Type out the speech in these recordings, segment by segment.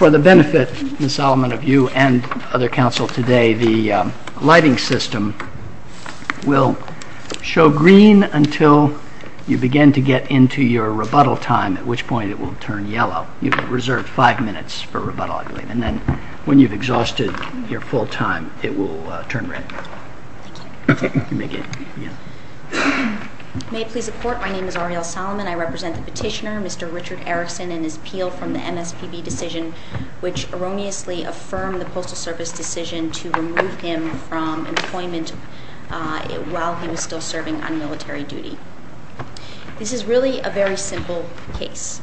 For the benefit, Ms. Solomon, of you and other counsel today, the lighting system will show green until you begin to get into your rebuttal time, at which point it will turn yellow. You have reserved five minutes for rebuttal, I believe, and then when you've exhausted your full time, it will turn red. May it please the Court, my name is Arielle Solomon, I represent the petitioner, Mr. Richard Erickson, and his appeal from the MSPB decision, which erroneously affirmed the Postal Service decision to remove him from employment while he was still serving on military duty. This is really a very simple case.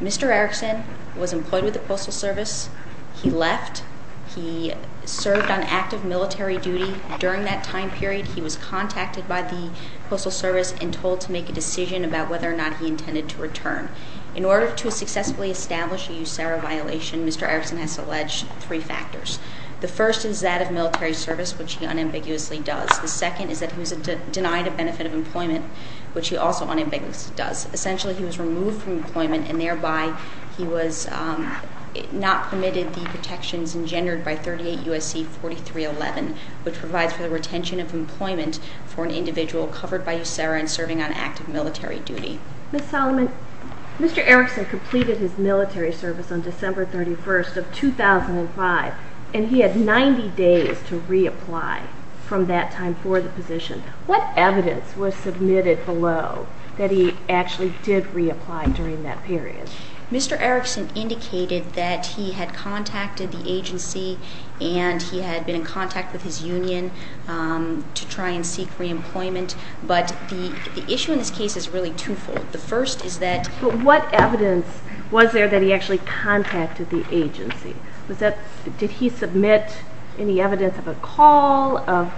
Mr. Erickson was employed with the Postal Service, he left, he served on active military duty. During that time period, he was contacted by the Postal Service and told to make a decision about whether or not he intended to return. In order to successfully establish a USARA violation, Mr. Erickson has to allege three factors. The first is that of military service, which he unambiguously does. The second is that he was denied a benefit of employment, which he also unambiguously does. Essentially, he was removed from employment and thereby he was not permitted the protections engendered by 38 U.S.C. 4311, which provides for the retention of employment for an individual covered by USARA and serving on active military duty. Ms. Solomon, Mr. Erickson completed his military service on December 31st of 2005, and he had 90 days to reapply from that time for the position. What evidence was submitted below that he actually did reapply during that period? Mr. Erickson indicated that he had contacted the agency and he had been in contact with his union to try and seek reemployment, but the issue in this case is really twofold. The first is that... But what evidence was there that he actually contacted the agency? Did he submit any evidence of a call, of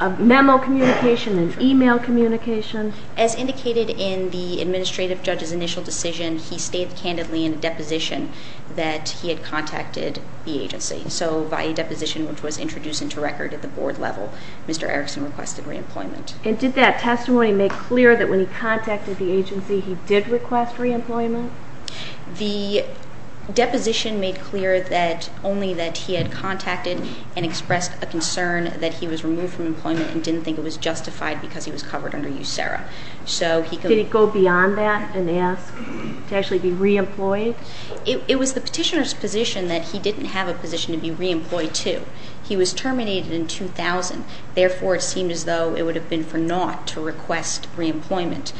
a memo communication, an email communication? As indicated in the administrative judge's initial decision, he stated candidly in a deposition that he had contacted the agency. So by a deposition which was introduced into record at the board level, Mr. Erickson requested reemployment. And did that testimony make clear that when he contacted the agency, he did request reemployment? The deposition made clear that only that he had contacted and expressed a concern that he was removed from employment and didn't think it was justified because he was covered under USERRA. So he could... Did he go beyond that and ask to actually be reemployed? It was the petitioner's position that he didn't have a position to be reemployed to. He was terminated in 2000. Therefore, it seemed as though it would have been for naught to request reemployment.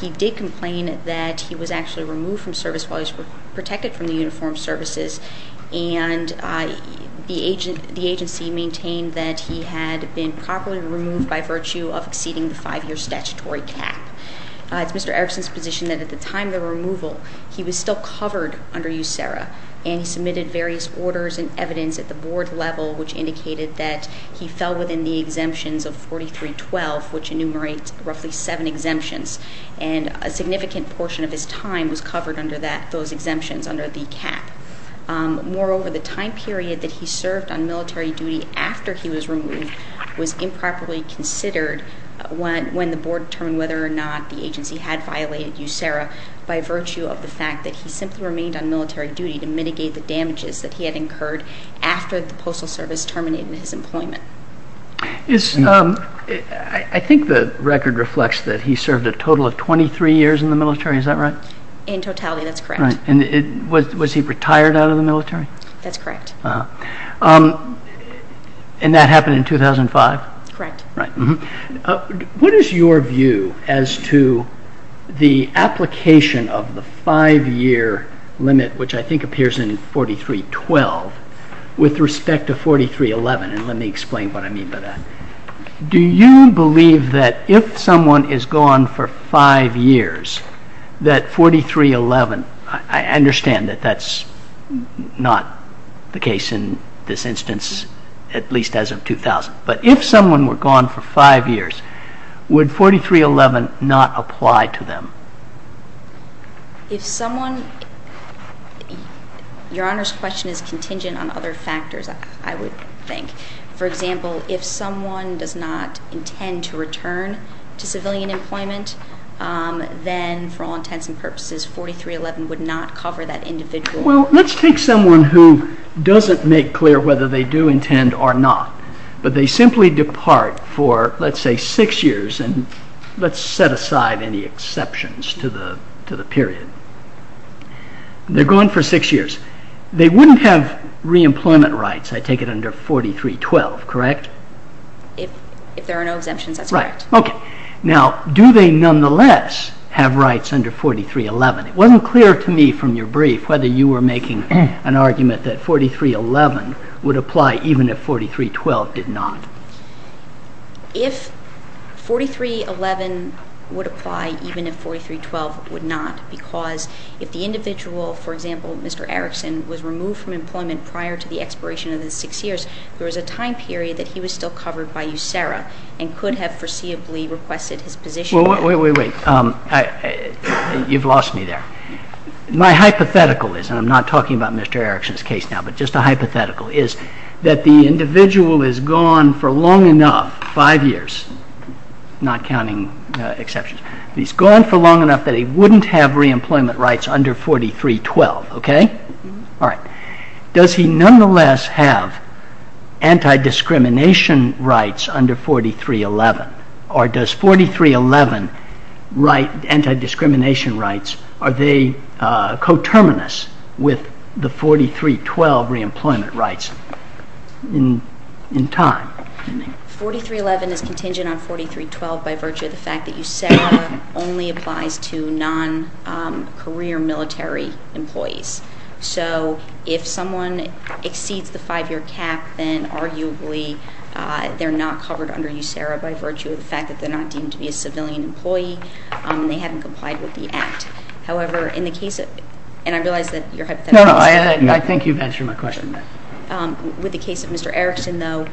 He did complain that he was actually removed from service while he was protected from the uniformed services, and the agency maintained that he had been properly removed by virtue of exceeding the five-year statutory cap. It's Mr. Erickson's position that at the time of the removal, he was still covered under USERRA, and he submitted various orders and evidence at the board level which indicated that he fell within the exemptions of 4312, which enumerates roughly seven exemptions, and a significant portion of his time was covered under those exemptions, under the cap. Moreover, the time period that he served on military duty after he was removed was improperly considered when the board determined whether or not the agency had violated USERRA by virtue of the fact that he simply remained on military duty to mitigate the damages that he had incurred after the Postal Service terminated his employment. I think the record reflects that he served a total of 23 years in the military. Is that right? In totality, that's correct. Was he retired out of the military? That's correct. And that happened in 2005? Correct. What is your view as to the application of the five-year limit, which I think appears in 4312, with respect to 4311, and let me explain what I mean by that. Do you believe that if someone is gone for five years, that 4311, I understand that that's not the case in this instance, at least as of 2000, but if someone were gone for five years, would 4311 not apply to them? Your Honor's question is contingent on other factors, I would think. For example, if someone does not intend to return to civilian employment, then for all intents and purposes, 4311 would not cover that individual. Well, let's take someone who doesn't make clear whether they do intend or not, but they simply depart for, let's say, six years, and let's set aside any exceptions to the period. They're gone for six years. They wouldn't have reemployment rights, I take it, under 4312, correct? If there are no exemptions, that's correct. Right, okay. Now, do they nonetheless have rights under 4311? It wasn't clear to me from your brief whether you were making an argument that 4311 would apply even if 4312 did not. If 4311 would apply even if 4312 would not, because if the individual, for example, Mr. Erickson, was removed from employment prior to the expiration of his six years, there was a time period that he was still covered by USERRA and could have foreseeably requested his position. Well, wait, wait, wait. You've lost me there. My hypothetical is, and I'm not talking about Mr. Erickson's case now, but just a hypothetical, is that the individual is gone for long enough, five years, not counting exceptions. He's gone for long enough that he wouldn't have reemployment rights under 4312, okay? All right. Does he nonetheless have anti-discrimination rights under 4311? Or does 4311 anti-discrimination rights, are they coterminous with the 4312 reemployment rights in time? 4311 is contingent on 4312 by virtue of the fact that USERRA only applies to non-career military employees. So if someone exceeds the five-year cap, then arguably they're not covered under USERRA by virtue of the fact that they're not deemed to be a civilian employee and they haven't complied with the act. However, in the case of Mr. Erickson, though,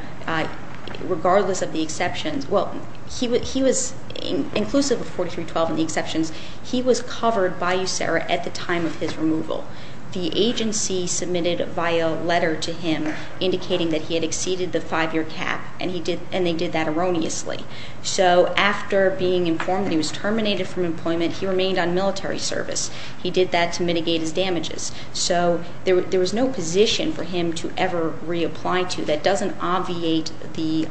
regardless of the exceptions, well, he was inclusive of 4312 and the exceptions. He was covered by USERRA at the time of his removal. The agency submitted a letter to him indicating that he had exceeded the five-year cap, and they did that erroneously. So after being informed that he was terminated from employment, he remained on military service. He did that to mitigate his damages. So there was no position for him to ever reapply to. That doesn't obviate the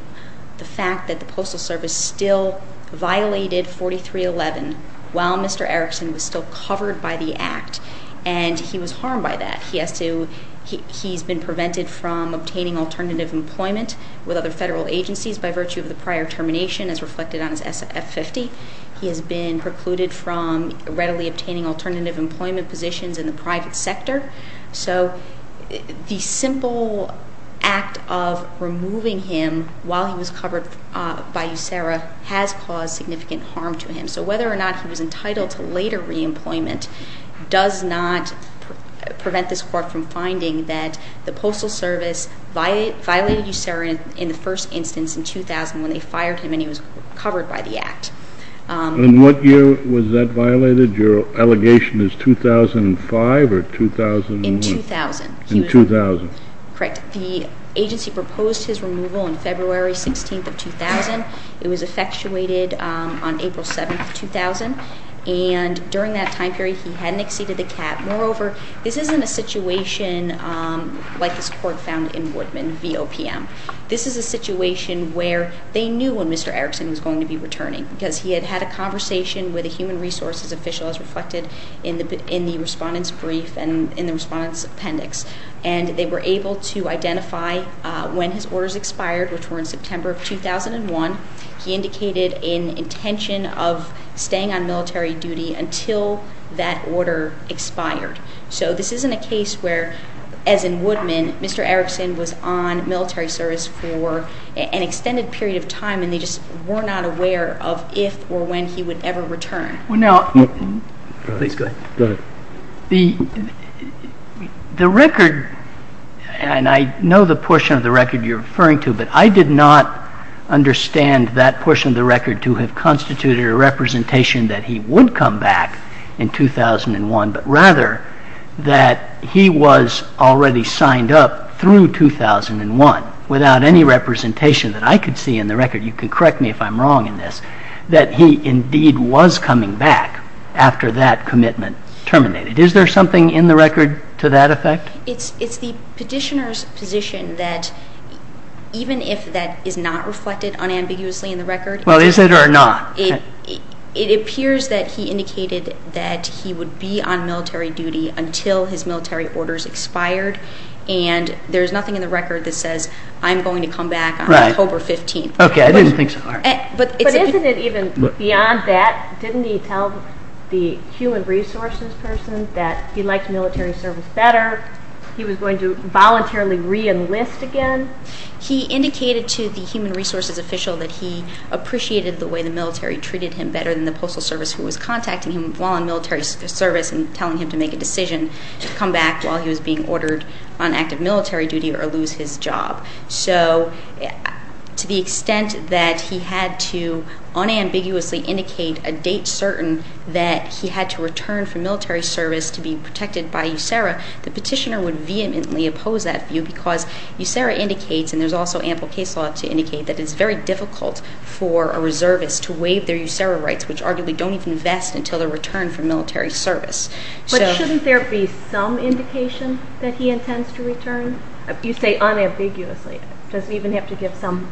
fact that the Postal Service still violated 4311 while Mr. Erickson was still covered by the act, and he was harmed by that. He has been prevented from obtaining alternative employment with other federal agencies by virtue of the prior termination, as reflected on his F50. He has been precluded from readily obtaining alternative employment positions in the private sector. So the simple act of removing him while he was covered by USERRA has caused significant harm to him. So whether or not he was entitled to later reemployment does not prevent this court from finding that the Postal Service violated USERRA in the first instance in 2000 when they fired him and he was covered by the act. And what year was that violated? Your allegation is 2005 or 2000? In 2000. In 2000. Correct. The agency proposed his removal on February 16th of 2000. It was effectuated on April 7th of 2000, and during that time period he hadn't exceeded the cap. Moreover, this isn't a situation like this court found in Woodman v. OPM. This is a situation where they knew when Mr. Erickson was going to be returning because he had had a conversation with a human resources official, as reflected in the respondent's brief and in the respondent's appendix, and they were able to identify when his orders expired, which were in September of 2001. He indicated an intention of staying on military duty until that order expired. So this isn't a case where, as in Woodman, Mr. Erickson was on military service for an extended period of time and they just were not aware of if or when he would ever return. Well, now, the record, and I know the portion of the record you're referring to, but I did not understand that portion of the record to have constituted a representation that he would come back in 2001, but rather that he was already signed up through 2001 without any representation that I could see in the record. You can correct me if I'm wrong in this, that he indeed was coming back after that commitment terminated. Is there something in the record to that effect? It's the petitioner's position that even if that is not reflected unambiguously in the record. Well, is it or not? It appears that he indicated that he would be on military duty until his military orders expired, and there's nothing in the record that says, I'm going to come back on October 15th. Okay, I didn't think so. But isn't it even beyond that? Didn't he tell the human resources person that he liked military service better? He was going to voluntarily reenlist again? He indicated to the human resources official that he appreciated the way the military treated him better than the Postal Service, who was contacting him while on military service and telling him to make a decision to come back while he was being ordered on active military duty or lose his job. So to the extent that he had to unambiguously indicate a date certain that he had to return from military service to be protected by USERRA, the petitioner would vehemently oppose that view because USERRA indicates, and there's also ample case law to indicate, that it's very difficult for a reservist to waive their USERRA rights, which arguably don't even vest until their return from military service. You say unambiguously. Does he even have to give some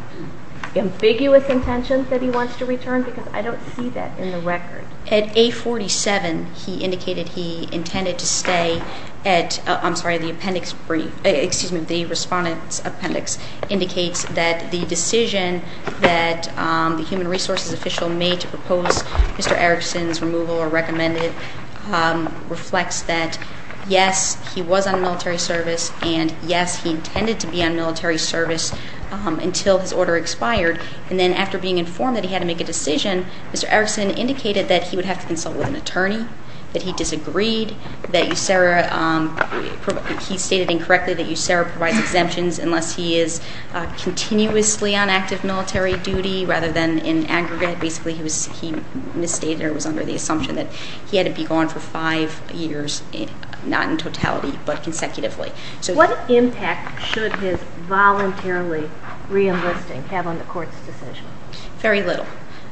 ambiguous intentions that he wants to return? Because I don't see that in the record. At 847, he indicated he intended to stay at, I'm sorry, the appendix brief. Excuse me, the respondent's appendix indicates that the decision that the human resources official made to propose Mr. Erickson's removal or recommended reflects that, yes, he was on military service, and, yes, he intended to be on military service until his order expired. And then after being informed that he had to make a decision, Mr. Erickson indicated that he would have to consult with an attorney, that he disagreed, that USERRA, he stated incorrectly that USERRA provides exemptions unless he is continuously on active military duty rather than in aggregate. Basically he misstated or was under the assumption that he had to be gone for five years, not in totality but consecutively. What impact should his voluntarily reenlisting have on the court's decision? Very little.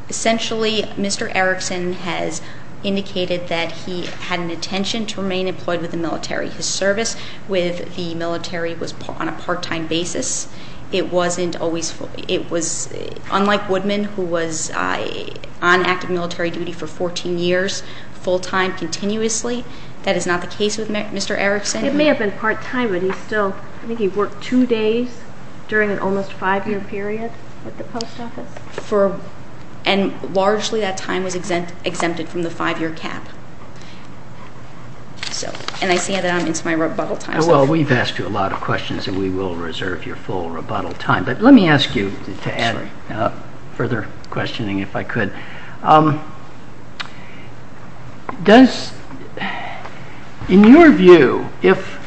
Essentially, Mr. Erickson has indicated that he had an intention to remain employed with the military. His service with the military was on a part-time basis. It wasn't always full. He was on active military duty for 14 years, full-time, continuously. That is not the case with Mr. Erickson. It may have been part-time, but he still, I think he worked two days during an almost five-year period at the post office. And largely that time was exempted from the five-year cap. And I see that I'm into my rebuttal time. Well, we've asked you a lot of questions, and we will reserve your full rebuttal time. But let me ask you to add further questioning if I could. Does, in your view, if,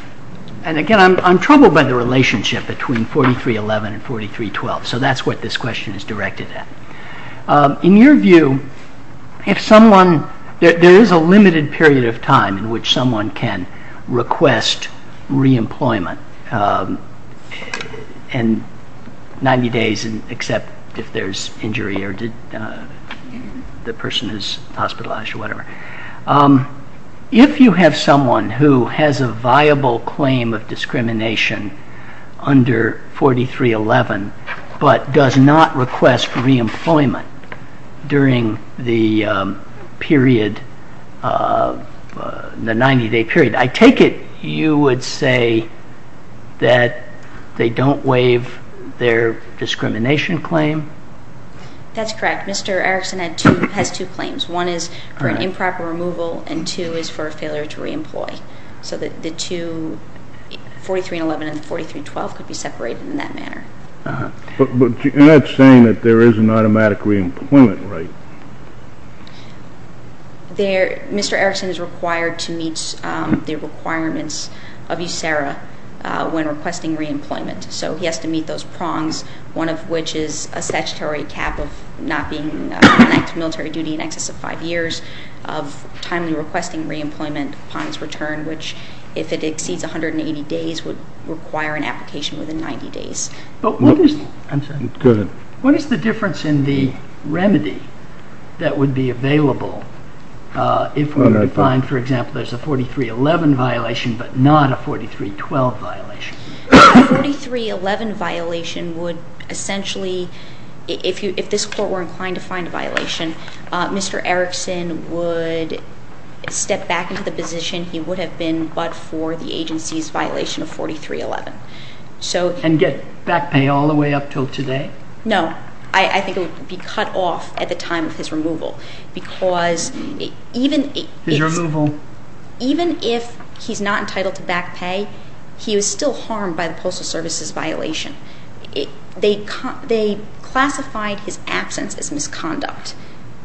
and again I'm troubled by the relationship between 4311 and 4312, so that's what this question is directed at. In your view, if someone, there is a limited period of time in which someone can request reemployment. And 90 days except if there's injury or the person is hospitalized or whatever. If you have someone who has a viable claim of discrimination under 4311, but does not request reemployment during the period, the 90-day period, I take it you would say that they don't waive their discrimination claim? That's correct. Mr. Erickson has two claims. One is for an improper removal, and two is for a failure to reemploy. So that the two, 4311 and 4312, could be separated in that manner. But you're not saying that there is an automatic reemployment rate. Mr. Erickson is required to meet the requirements of USERRA when requesting reemployment. So he has to meet those prongs, one of which is a statutory cap of not being connected to military duty in excess of five years of timely requesting reemployment upon his return, which if it exceeds 180 days would require an application within 90 days. But what is the difference in the remedy that would be available if we were to find, for example, there's a 4311 violation but not a 4312 violation? A 4311 violation would essentially, if this court were inclined to find a violation, Mr. Erickson would step back into the position he would have been but for the agency's violation of 4311. And get back pay all the way up until today? No. I think it would be cut off at the time of his removal because even if he's not entitled to back pay, he was still harmed by the Postal Service's violation. They classified his absence as misconduct,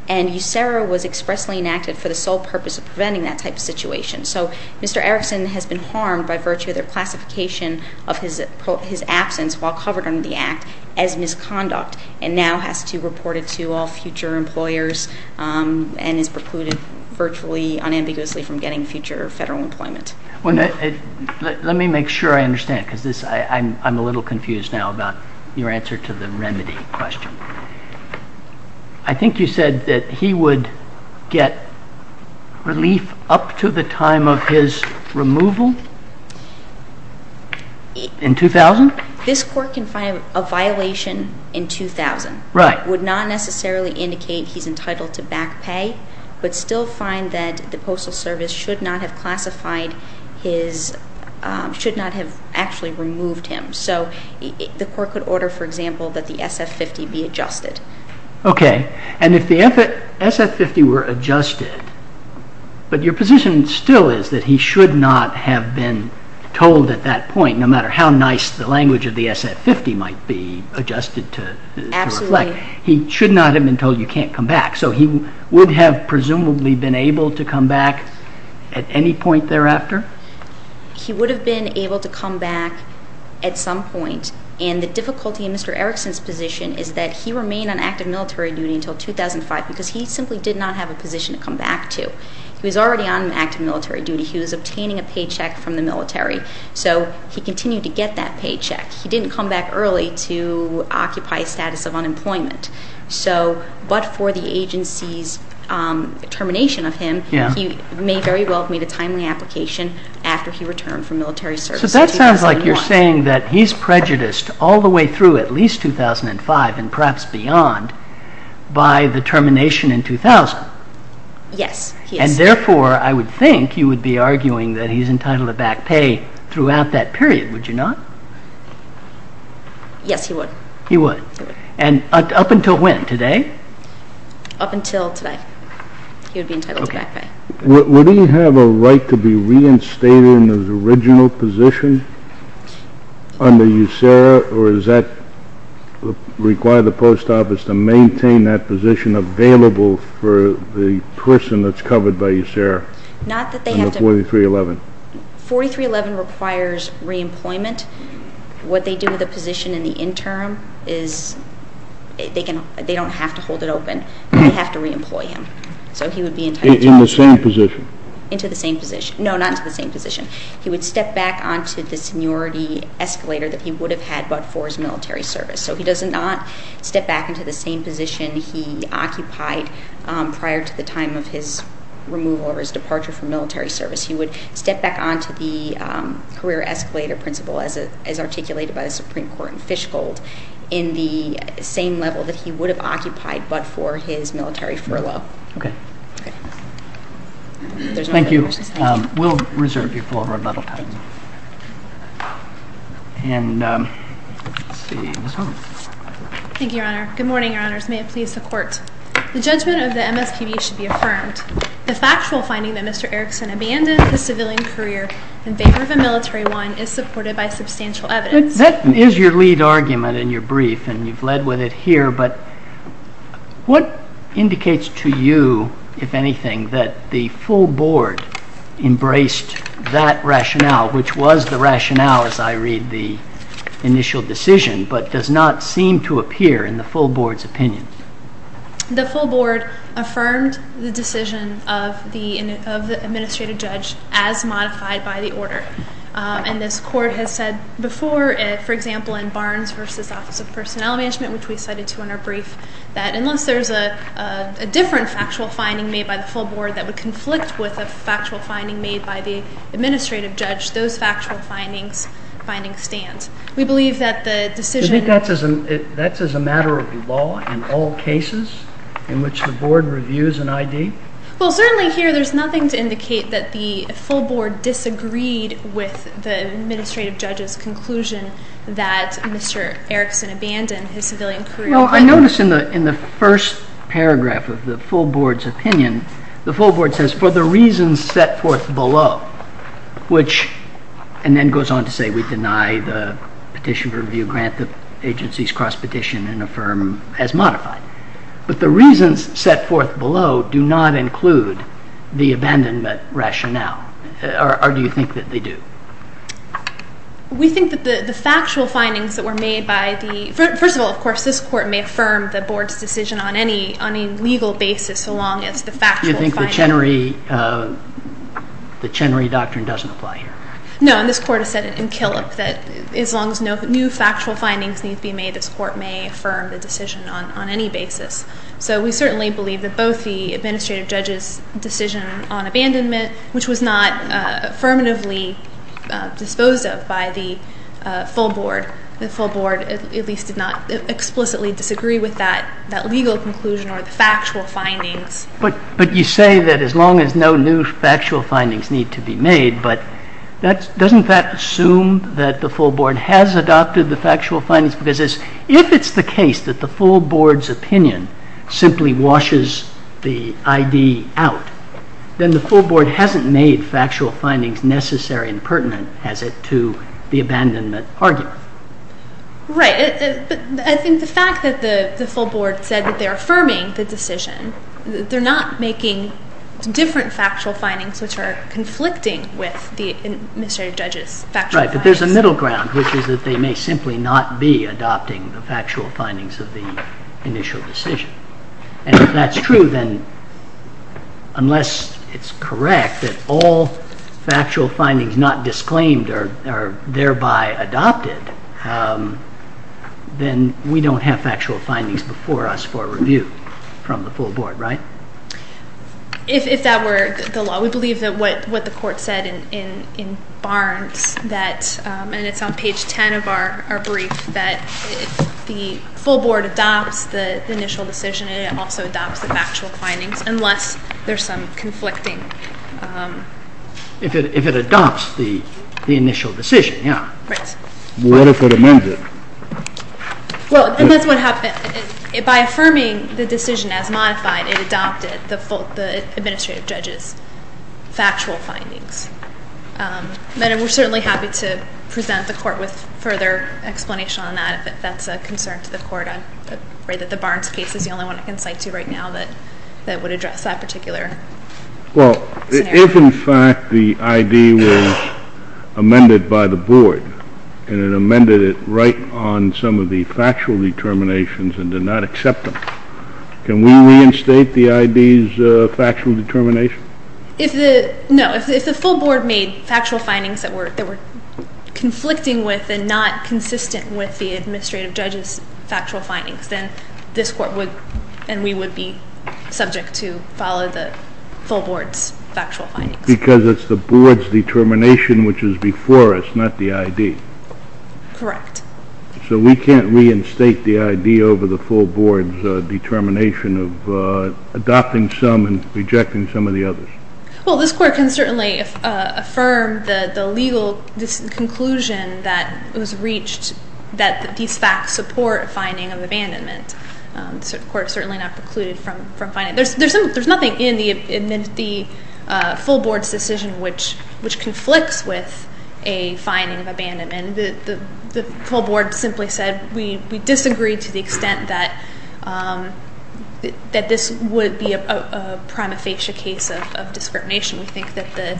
and USERRA was expressly enacted for the sole purpose of preventing that type of situation. So Mr. Erickson has been harmed by virtue of their classification of his absence while covered under the Act as misconduct and now has to report it to all future employers and is precluded virtually unambiguously from getting future federal employment. Let me make sure I understand because I'm a little confused now about your answer to the remedy question. I think you said that he would get relief up to the time of his removal in 2000? This court can find a violation in 2000. Right. Would not necessarily indicate he's entitled to back pay but still find that the Postal Service should not have classified his, should not have actually removed him. So the court could order, for example, that the SF-50 be adjusted. Okay. And if the SF-50 were adjusted, but your position still is that he should not have been told at that point, no matter how nice the language of the SF-50 might be adjusted to reflect, he should not have been told you can't come back. So he would have presumably been able to come back at any point thereafter? He would have been able to come back at some point. And the difficulty in Mr. Erickson's position is that he remained on active military duty until 2005 because he simply did not have a position to come back to. He was already on active military duty. He was obtaining a paycheck from the military. So he continued to get that paycheck. He didn't come back early to occupy a status of unemployment. But for the agency's termination of him, he may very well have made a timely application after he returned from military service in 2001. So that sounds like you're saying that he's prejudiced all the way through at least 2005 and perhaps beyond by the termination in 2000. Yes, he is. And therefore, I would think you would be arguing that he's entitled to back pay throughout that period. Would you not? Yes, he would. He would. And up until when? Today? Up until today. He would be entitled to back pay. Would he have a right to be reinstated in his original position under USERRA, or does that require the post office to maintain that position available for the person that's covered by USERRA? Not that they have to— Under 4311. 4311 requires reemployment. What they do with the position in the interim is they don't have to hold it open. They have to reemploy him. So he would be entitled— In the same position. Into the same position. No, not into the same position. He would step back onto the seniority escalator that he would have had but for his military service. So he does not step back into the same position he occupied prior to the time of his removal or his departure from military service. He would step back onto the career escalator principle as articulated by the Supreme Court in Fishgold in the same level that he would have occupied but for his military furlough. Okay. Thank you. We'll reserve you for a rebuttal time. Thank you, Your Honor. Good morning, Your Honors. May it please the Court. The judgment of the MSPB should be affirmed. The factual finding that Mr. Erickson abandoned his civilian career in favor of a military one is supported by substantial evidence. That is your lead argument in your brief, and you've led with it here. But what indicates to you, if anything, that the full Board embraced that rationale, which was the rationale, as I read the initial decision, but does not seem to appear in the full Board's opinion? The full Board affirmed the decision of the administrative judge as modified by the order, and this Court has said before, for example, in Barnes v. Office of Personnel Management, which we cited too in our brief, that unless there's a different factual finding made by the full Board that would conflict with a factual finding made by the administrative judge, those factual findings stand. Well, certainly here there's nothing to indicate that the full Board disagreed with the administrative judge's conclusion that Mr. Erickson abandoned his civilian career. Well, I notice in the first paragraph of the full Board's opinion, the full Board says, for the reasons set forth below, which, and then goes on to say we deny the petition review grant that the agency's cross-petition and affirm as modified. But the reasons set forth below do not include the abandonment rationale, or do you think that they do? We think that the factual findings that were made by the, first of all, of course, this Court may affirm the Board's decision on any legal basis so long as the factual findings. You think the Chenery Doctrine doesn't apply here? No, and this Court has said in Killick that as long as no new factual findings need to be made, this Court may affirm the decision on any basis. So we certainly believe that both the administrative judge's decision on abandonment, which was not affirmatively disposed of by the full Board, the full Board at least did not explicitly disagree with that legal conclusion or the factual findings. But you say that as long as no new factual findings need to be made, but doesn't that assume that the full Board has adopted the factual findings? Because if it's the case that the full Board's opinion simply washes the ID out, then the full Board hasn't made factual findings necessary and pertinent, has it, to the abandonment argument. Right. I think the fact that the full Board said that they're affirming the decision, they're not making different factual findings which are conflicting with the administrative judge's factual findings. Right, but there's a middle ground, which is that they may simply not be adopting the factual findings of the initial decision. And if that's true, then unless it's correct that all factual findings not disclaimed are thereby adopted, then we don't have factual findings before us for review from the full Board, right? If that were the law, we believe that what the court said in Barnes, and it's on page 10 of our brief, that the full Board adopts the initial decision and it also adopts the factual findings unless there's some conflicting... If it adopts the initial decision, yeah. Right. What if it amended? Well, and that's what happened. By affirming the decision as modified, it adopted the administrative judge's factual findings. Madam, we're certainly happy to present the court with further explanation on that if that's a concern to the court. I'm afraid that the Barnes case is the only one I can cite to you right now that would address that particular scenario. If, in fact, the I.D. was amended by the Board and it amended it right on some of the factual determinations and did not accept them, can we reinstate the I.D.'s factual determination? No. If the full Board made factual findings that were conflicting with and not consistent with the administrative judge's factual findings, then this court would and we would be subject to follow the full Board's factual findings. Because it's the Board's determination which is before us, not the I.D.? Correct. So we can't reinstate the I.D. over the full Board's determination of adopting some and rejecting some of the others? Well, this court can certainly affirm the legal conclusion that it was reached that these facts support a finding of abandonment. The court certainly not precluded from finding it. There's nothing in the full Board's decision which conflicts with a finding of abandonment. The full Board simply said we disagree to the extent that this would be a prima facie case of discrimination. We think that the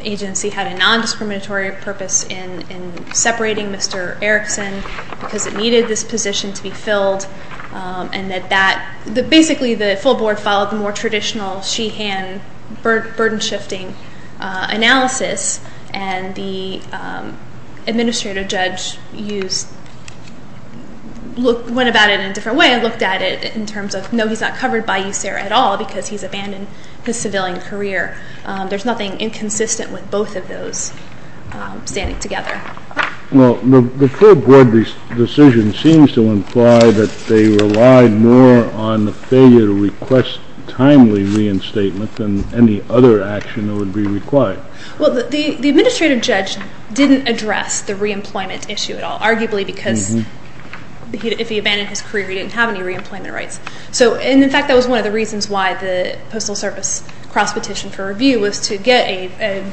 agency had a nondiscriminatory purpose in separating Mr. Erickson because it needed this position to be filled and that basically the full Board followed the more traditional she-hand burden-shifting analysis and the administrative judge went about it in a different way and I looked at it in terms of no, he's not covered by USERRA at all because he's abandoned his civilian career. There's nothing inconsistent with both of those standing together. Well, the full Board decision seems to imply that they relied more on the failure to request timely reinstatement than any other action that would be required. Well, the administrative judge didn't address the reemployment issue at all, arguably because if he abandoned his career, he didn't have any reemployment rights. In fact, that was one of the reasons why the Postal Service cross-petitioned for review was to get a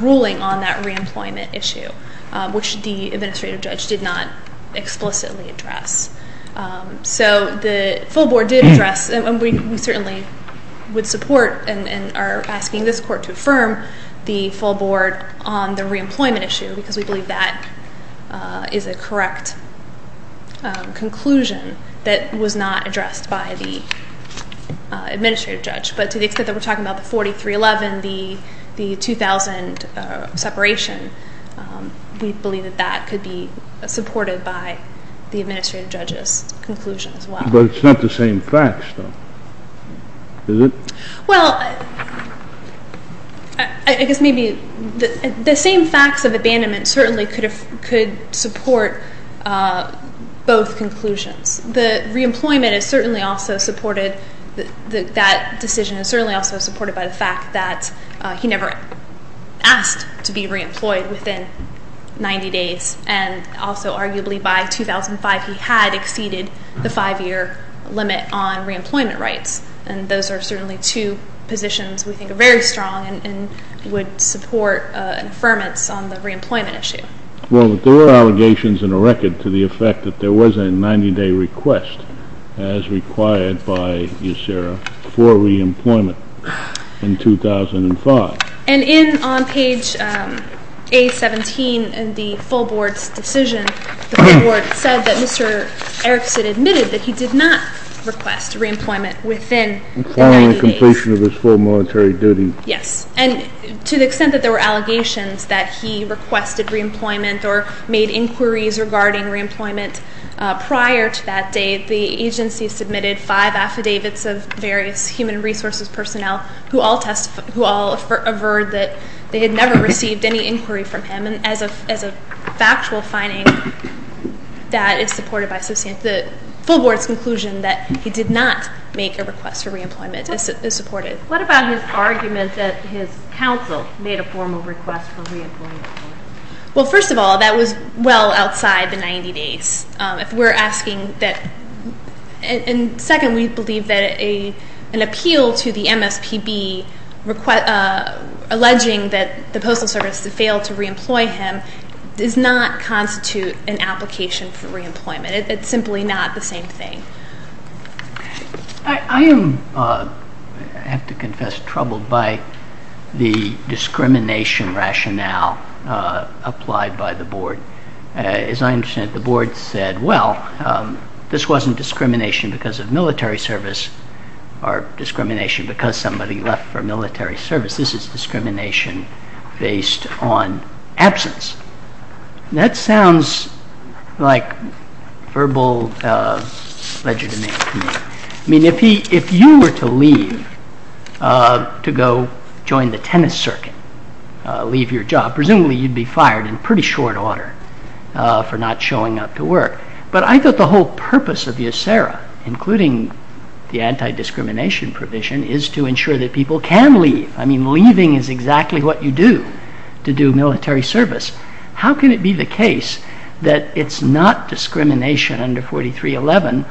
ruling on that reemployment issue, which the administrative judge did not explicitly address. So the full Board did address, and we certainly would support and are asking this court to affirm the full Board on the reemployment issue because we believe that is a correct conclusion that was not addressed by the administrative judge. But to the extent that we're talking about the 4311, the 2000 separation, we believe that that could be supported by the administrative judge's conclusion as well. But it's not the same facts, though, is it? Well, I guess maybe the same facts of abandonment certainly could support both conclusions. The reemployment is certainly also supported. That decision is certainly also supported by the fact that he never asked to be reemployed within 90 days, and also arguably by 2005 he had exceeded the five-year limit on reemployment rights, and those are certainly two positions we think are very strong and would support an affirmance on the reemployment issue. Well, but there were allegations in the record to the effect that there was a 90-day request as required by USERRA for reemployment in 2005. And in on page A17 in the full Board's decision, the full Board said that Mr. Erickson admitted that he did not request reemployment within 90 days. Requiring the completion of his full monetary duty. Yes. And to the extent that there were allegations that he requested reemployment or made inquiries regarding reemployment prior to that date, the agency submitted five affidavits of various human resources personnel who all averred that they had never received any inquiry from him. And as a factual finding that is supported by the full Board's conclusion that he did not make a request for reemployment is supported. What about his argument that his counsel made a formal request for reemployment? Well, first of all, that was well outside the 90 days. If we're asking that, and second, we believe that an appeal to the MSPB alleging that the Postal Service failed to reemploy him does not constitute an application for reemployment. It's simply not the same thing. I am, I have to confess, troubled by the discrimination rationale applied by the Board. As I understand it, the Board said, well, this wasn't discrimination because of military service or discrimination because somebody left for military service. This is discrimination based on absence. That sounds like verbal legitimacy to me. I mean, if you were to leave to go join the tennis circuit, leave your job, presumably you'd be fired in pretty short order for not showing up to work. But I thought the whole purpose of the ACERA, including the anti-discrimination provision, is to ensure that people can leave. I mean, leaving is exactly what you do to do military service. How can it be the case that it's not discrimination under 4311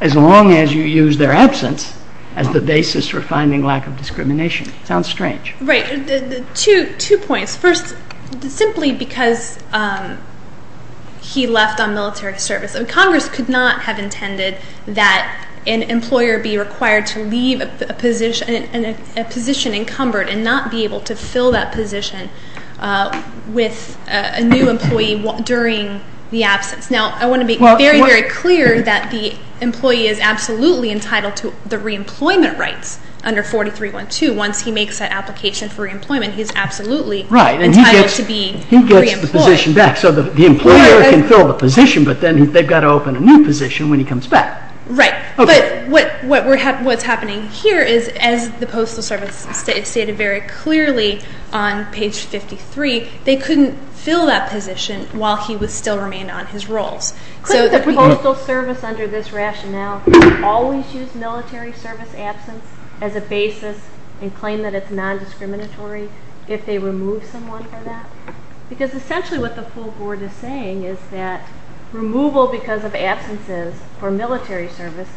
as long as you use their absence as the basis for finding lack of discrimination? It sounds strange. Right. Two points. First, simply because he left on military service. Congress could not have intended that an employer be required to leave a position and not be able to fill that position with a new employee during the absence. Now, I want to be very, very clear that the employee is absolutely entitled to the reemployment rights under 4312 once he makes that application for reemployment. He is absolutely entitled to be reemployed. Right, and he gets the position back. So the employer can fill the position, but then they've got to open a new position when he comes back. Right. But what's happening here is, as the Postal Service stated very clearly on page 53, they couldn't fill that position while he would still remain on his roles. Couldn't the Postal Service, under this rationale, always use military service absence as a basis and claim that it's non-discriminatory if they remove someone for that? Because essentially what the full board is saying is that removal because of absences for military service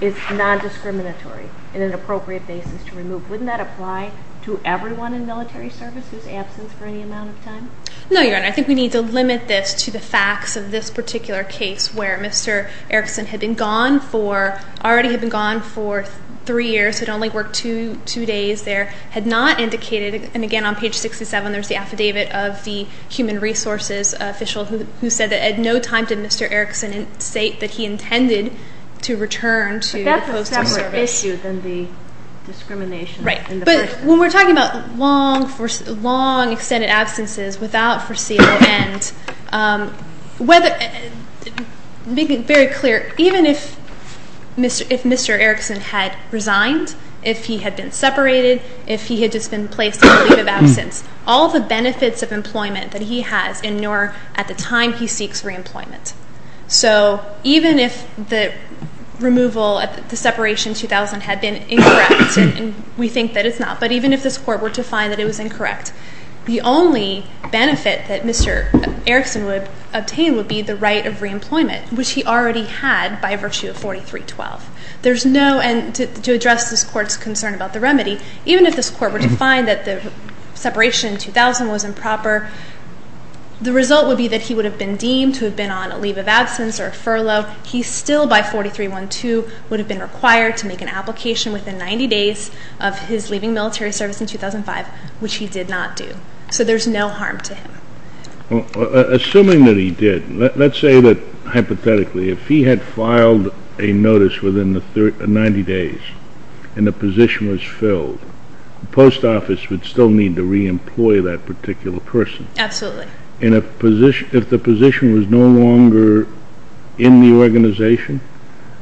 is non-discriminatory in an appropriate basis to remove. Wouldn't that apply to everyone in military service whose absence for any amount of time? No, Your Honor. I think we need to limit this to the facts of this particular case where Mr. Erickson had already been gone for three years, had only worked two days there, had not indicated, and again on page 67 there's the affidavit of the human resources official who said that at no time did Mr. Erickson state that he intended to return to the Postal Service. But that's a separate issue than the discrimination in the person. When we're talking about long extended absences without foreseeable end, make it very clear, even if Mr. Erickson had resigned, if he had been separated, if he had just been placed on leave of absence, all the benefits of employment that he has and nor at the time he seeks reemployment. So even if the removal, the separation in 2000 had been incorrect, and we think that it's not, but even if this Court were to find that it was incorrect, the only benefit that Mr. Erickson would obtain would be the right of reemployment, which he already had by virtue of 4312. There's no, and to address this Court's concern about the remedy, even if this Court were to find that the separation in 2000 was improper, the result would be that he would have been deemed to have been on a leave of absence or a furlough. He still, by 4312, would have been required to make an application within 90 days of his leaving military service in 2005, which he did not do. So there's no harm to him. Assuming that he did, let's say that hypothetically, if he had filed a notice within the 90 days and the position was filled, the post office would still need to reemploy that particular person. Absolutely. And if the position was no longer in the organization,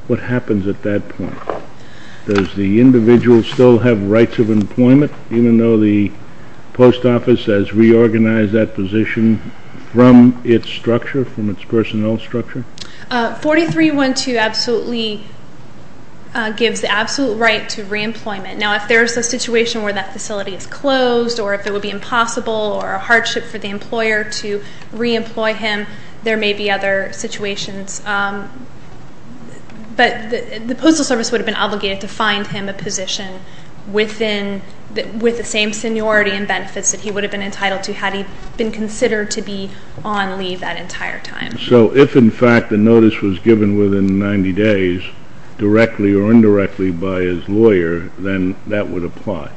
what happens at that point? Does the individual still have rights of employment, even though the post office has reorganized that position from its structure, from its personnel structure? 4312 absolutely gives the absolute right to reemployment. Now, if there's a situation where that facility is closed or if it would be impossible or a hardship for the employer to reemploy him, there may be other situations. But the Postal Service would have been obligated to find him a position within, with the same seniority and benefits that he would have been entitled to had he been considered to be on leave that entire time. So if, in fact, the notice was given within 90 days, directly or indirectly by his lawyer, then that would apply,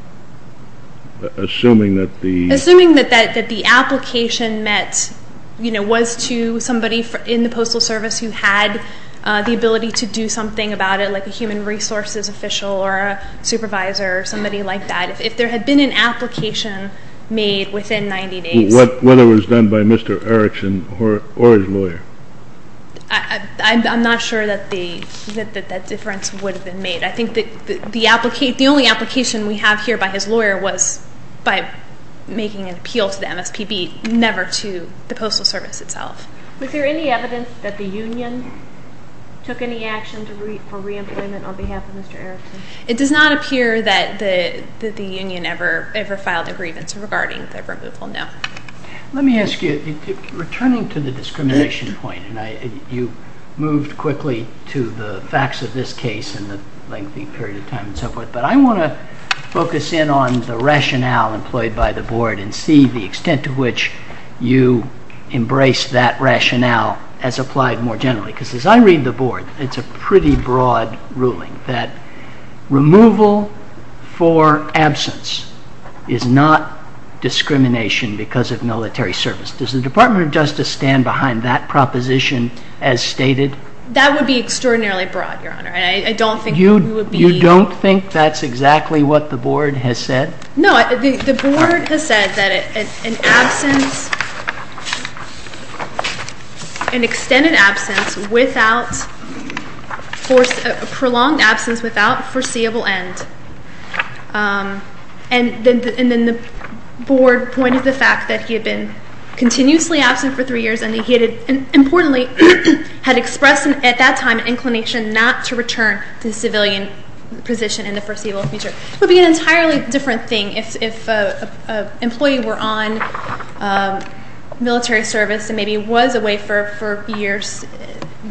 assuming that the – Assuming that the application met, you know, was to somebody in the Postal Service who had the ability to do something about it, like a human resources official or a supervisor or somebody like that. If there had been an application made within 90 days – Whether it was done by Mr. Erickson or his lawyer. I'm not sure that that difference would have been made. I think that the only application we have here by his lawyer was by making an appeal to the MSPB, never to the Postal Service itself. Was there any evidence that the union took any action for reemployment on behalf of Mr. Erickson? It does not appear that the union ever filed a grievance regarding the removal, no. Let me ask you, returning to the discrimination point, and you moved quickly to the facts of this case and the lengthy period of time and so forth, but I want to focus in on the rationale employed by the Board and see the extent to which you embrace that rationale as applied more generally. Because as I read the Board, it's a pretty broad ruling that removal for absence is not discrimination because of military service. Does the Department of Justice stand behind that proposition as stated? That would be extraordinarily broad, Your Honor, and I don't think you would be – You don't think that's exactly what the Board has said? No, the Board has said that an absence – an extended absence without – a prolonged absence without foreseeable end. And then the Board pointed to the fact that he had been continuously absent for three years and that he had, importantly, had expressed at that time an inclination not to return to the civilian position in the foreseeable future. It would be an entirely different thing if an employee were on military service and maybe was away for years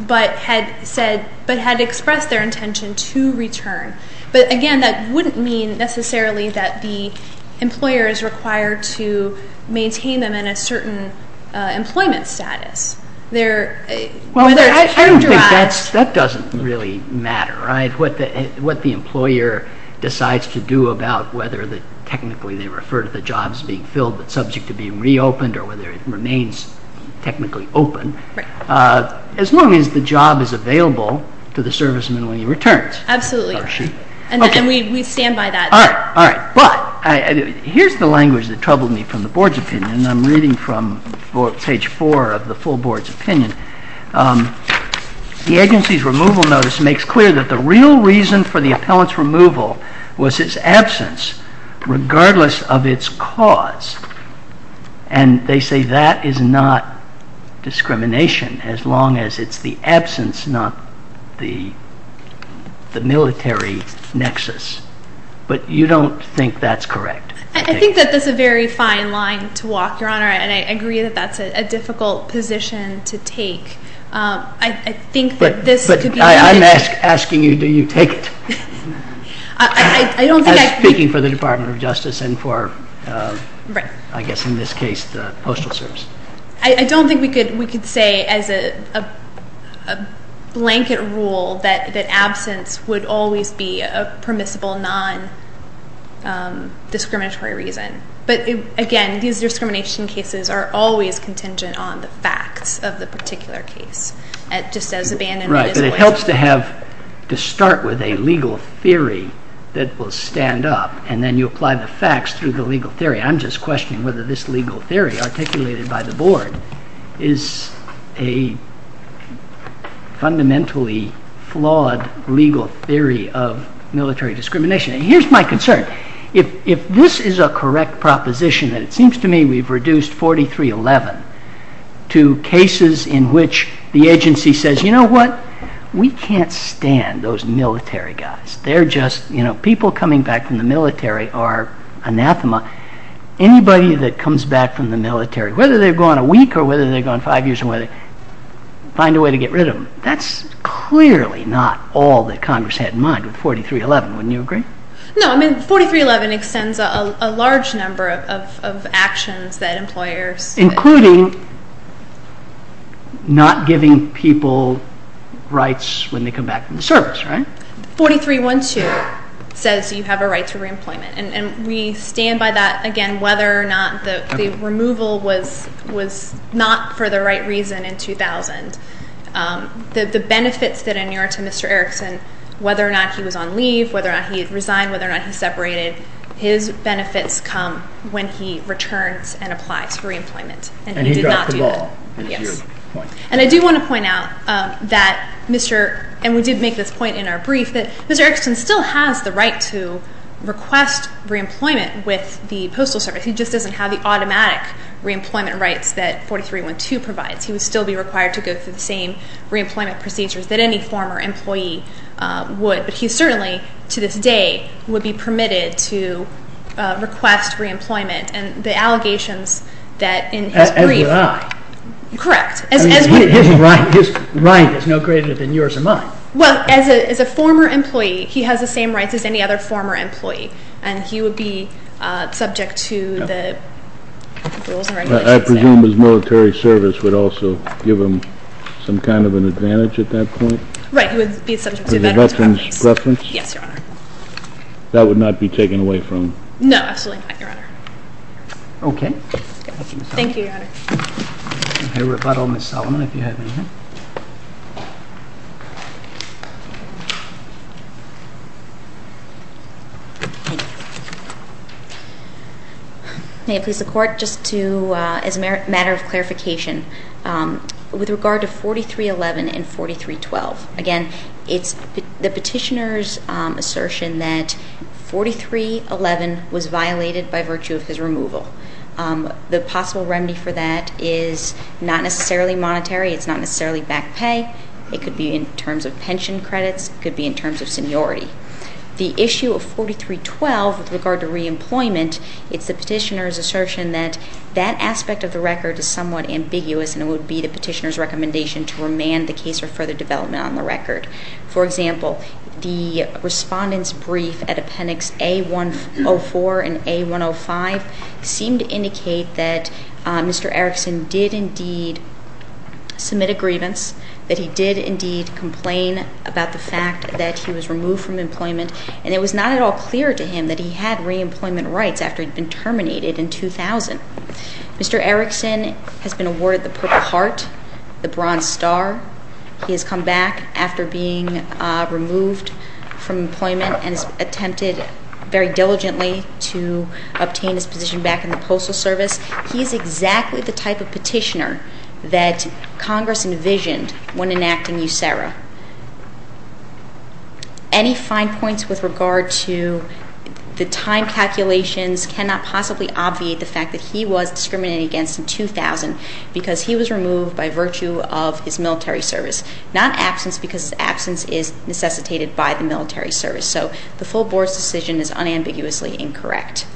but had said – but had expressed their intention to return. But again, that wouldn't mean necessarily that the employer is required to maintain them in a certain employment status. Well, I don't think that's – that doesn't really matter, right, what the employer decides to do about whether technically they refer to the jobs being filled but subject to being reopened or whether it remains technically open. Right. As long as the job is available to the serviceman when he returns. Absolutely. And we stand by that. All right, all right. But here's the language that troubled me from the Board's opinion, and I'm reading from page four of the full Board's opinion. The agency's removal notice makes clear that the real reason for the appellant's removal was his absence regardless of its cause. And they say that is not discrimination as long as it's the absence, not the military nexus. But you don't think that's correct? I think that that's a very fine line to walk, Your Honor, and I agree that that's a difficult position to take. I think that this could be – But I'm asking you, do you take it? I don't think I – I'm speaking for the Department of Justice and for, I guess in this case, the Postal Service. I don't think we could say as a blanket rule that absence would always be a permissible non-discriminatory reason. But, again, these discrimination cases are always contingent on the facts of the particular case just as abandonment is a voice. Right, but it helps to have – to start with a legal theory that will stand up and then you apply the facts through the legal theory. I'm just questioning whether this legal theory articulated by the Board is a fundamentally flawed legal theory of military discrimination. And here's my concern. If this is a correct proposition that it seems to me we've reduced 4311 to cases in which the agency says, you know what, we can't stand those military guys. They're just – people coming back from the military are anathema. Anybody that comes back from the military, whether they've gone a week or whether they've gone five years, find a way to get rid of them. That's clearly not all that Congress had in mind with 4311. Wouldn't you agree? No, I mean, 4311 extends a large number of actions that employers – including not giving people rights when they come back from the service, right? 4312 says you have a right to reemployment, and we stand by that, again, whether or not the removal was not for the right reason in 2000. The benefits that inure to Mr. Erickson, whether or not he was on leave, whether or not he resigned, whether or not he separated, his benefits come when he returns and applies for reemployment. And he did not do that. And he dropped the ball, is your point. Yes. And I do want to point out that Mr. – and we did make this point in our brief – that Mr. Erickson still has the right to request reemployment with the Postal Service. He just doesn't have the automatic reemployment rights that 4312 provides. He would still be required to go through the same reemployment procedures that any former employee would. But he certainly, to this day, would be permitted to request reemployment. And the allegations that in his brief – As do I. Correct. His right is no greater than yours or mine. Well, as a former employee, he has the same rights as any other former employee, and he would be subject to the rules and regulations. I presume his military service would also give him some kind of an advantage at that point? Right. He would be subject to that. As a veteran? Yes, Your Honor. That would not be taken away from him? No, absolutely not, Your Honor. Okay. Thank you, Your Honor. I will let Ms. Solomon, if you have anything. May it please the Court, just to – as a matter of clarification, with regard to 4311 and 4312. Again, it's the petitioner's assertion that 4311 was violated by virtue of his removal. The possible remedy for that is not necessarily monetary. It's not necessarily back pay. It could be in terms of pension credits. It could be in terms of seniority. The issue of 4312 with regard to reemployment, it's the petitioner's assertion that that aspect of the record is somewhat ambiguous and it would be the petitioner's recommendation to remand the case or further development on the record. For example, the respondent's brief at Appendix A-104 and A-105 seemed to indicate that Mr. Erickson did indeed submit a grievance, that he did indeed complain about the fact that he was removed from employment, and it was not at all clear to him that he had reemployment rights after he'd been terminated in 2000. Mr. Erickson has been awarded the Purple Heart, the Bronze Star. He has come back after being removed from employment and has attempted very diligently to obtain his position back in the Postal Service. He is exactly the type of petitioner that Congress envisioned when enacting USERRA. Any fine points with regard to the time calculations cannot possibly obviate the fact that he was discriminated against in 2000 because he was removed by virtue of his military service, not absence because absence is necessitated by the military service. So the full Board's decision is unambiguously incorrect.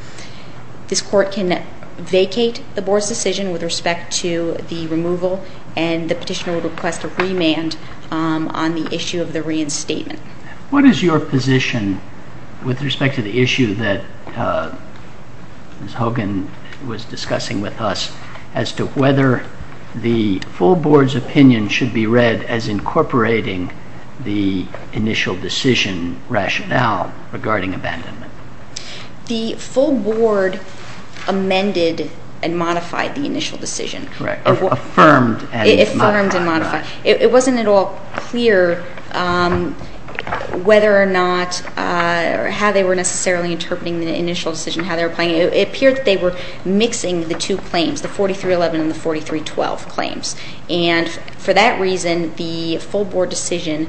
This Court can vacate the Board's decision with respect to the removal and the petitioner would request a remand on the issue of the reinstatement. What is your position with respect to the issue that Ms. Hogan was discussing with us as to whether the full Board's opinion should be read as incorporating the initial decision rationale regarding abandonment? The full Board amended and modified the initial decision. Correct. Affirmed and modified. Affirmed and modified. It wasn't at all clear whether or not, or how they were necessarily interpreting the initial decision, how they were applying it. It appeared that they were mixing the two claims, the 4311 and the 4312 claims. And for that reason, the full Board decision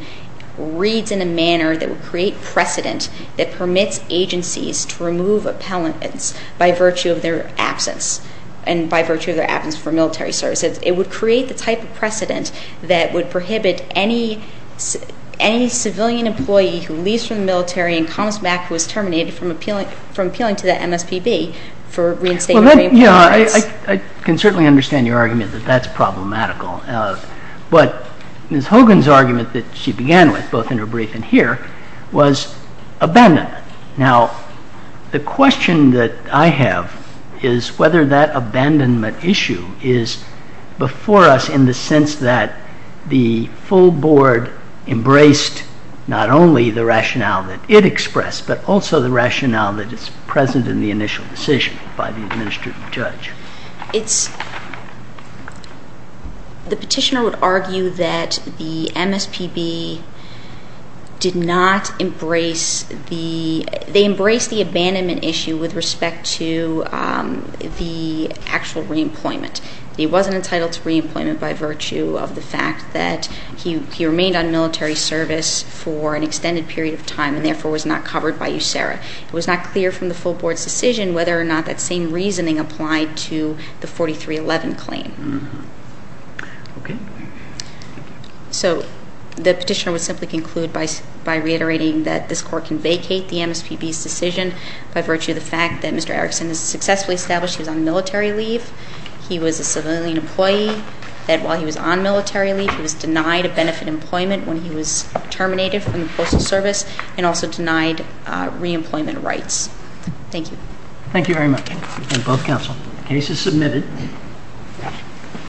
reads in a manner that would create precedent that permits agencies to remove appellants by virtue of their absence and by virtue of their absence for military services. It would create the type of precedent that would prohibit any civilian employee who leaves from the military and comes back who is terminated from appealing to the MSPB for reinstatement. I can certainly understand your argument that that's problematical. But Ms. Hogan's argument that she began with, both in her brief and here, was abandonment. Now, the question that I have is whether that abandonment issue is before us in the sense that the full Board embraced not only the rationale that it expressed, but also the rationale that is present in the initial decision by the administrative judge. The petitioner would argue that the MSPB did not embrace the abandonment issue with respect to the actual reemployment. He wasn't entitled to reemployment by virtue of the fact that he remained on military service for an extended period of time and, therefore, was not covered by USERRA. It was not clear from the full Board's decision whether or not that same reasoning applied to the 4311 claim. Okay. So the petitioner would simply conclude by reiterating that this Court can vacate the MSPB's decision by virtue of the fact that Mr. Erickson has successfully established he was on military leave, he was a civilian employee, that while he was on military leave, he was denied a benefit employment when he was terminated from the Postal Service and also denied reemployment rights. Thank you. Thank you very much. And both counsel, the case is submitted.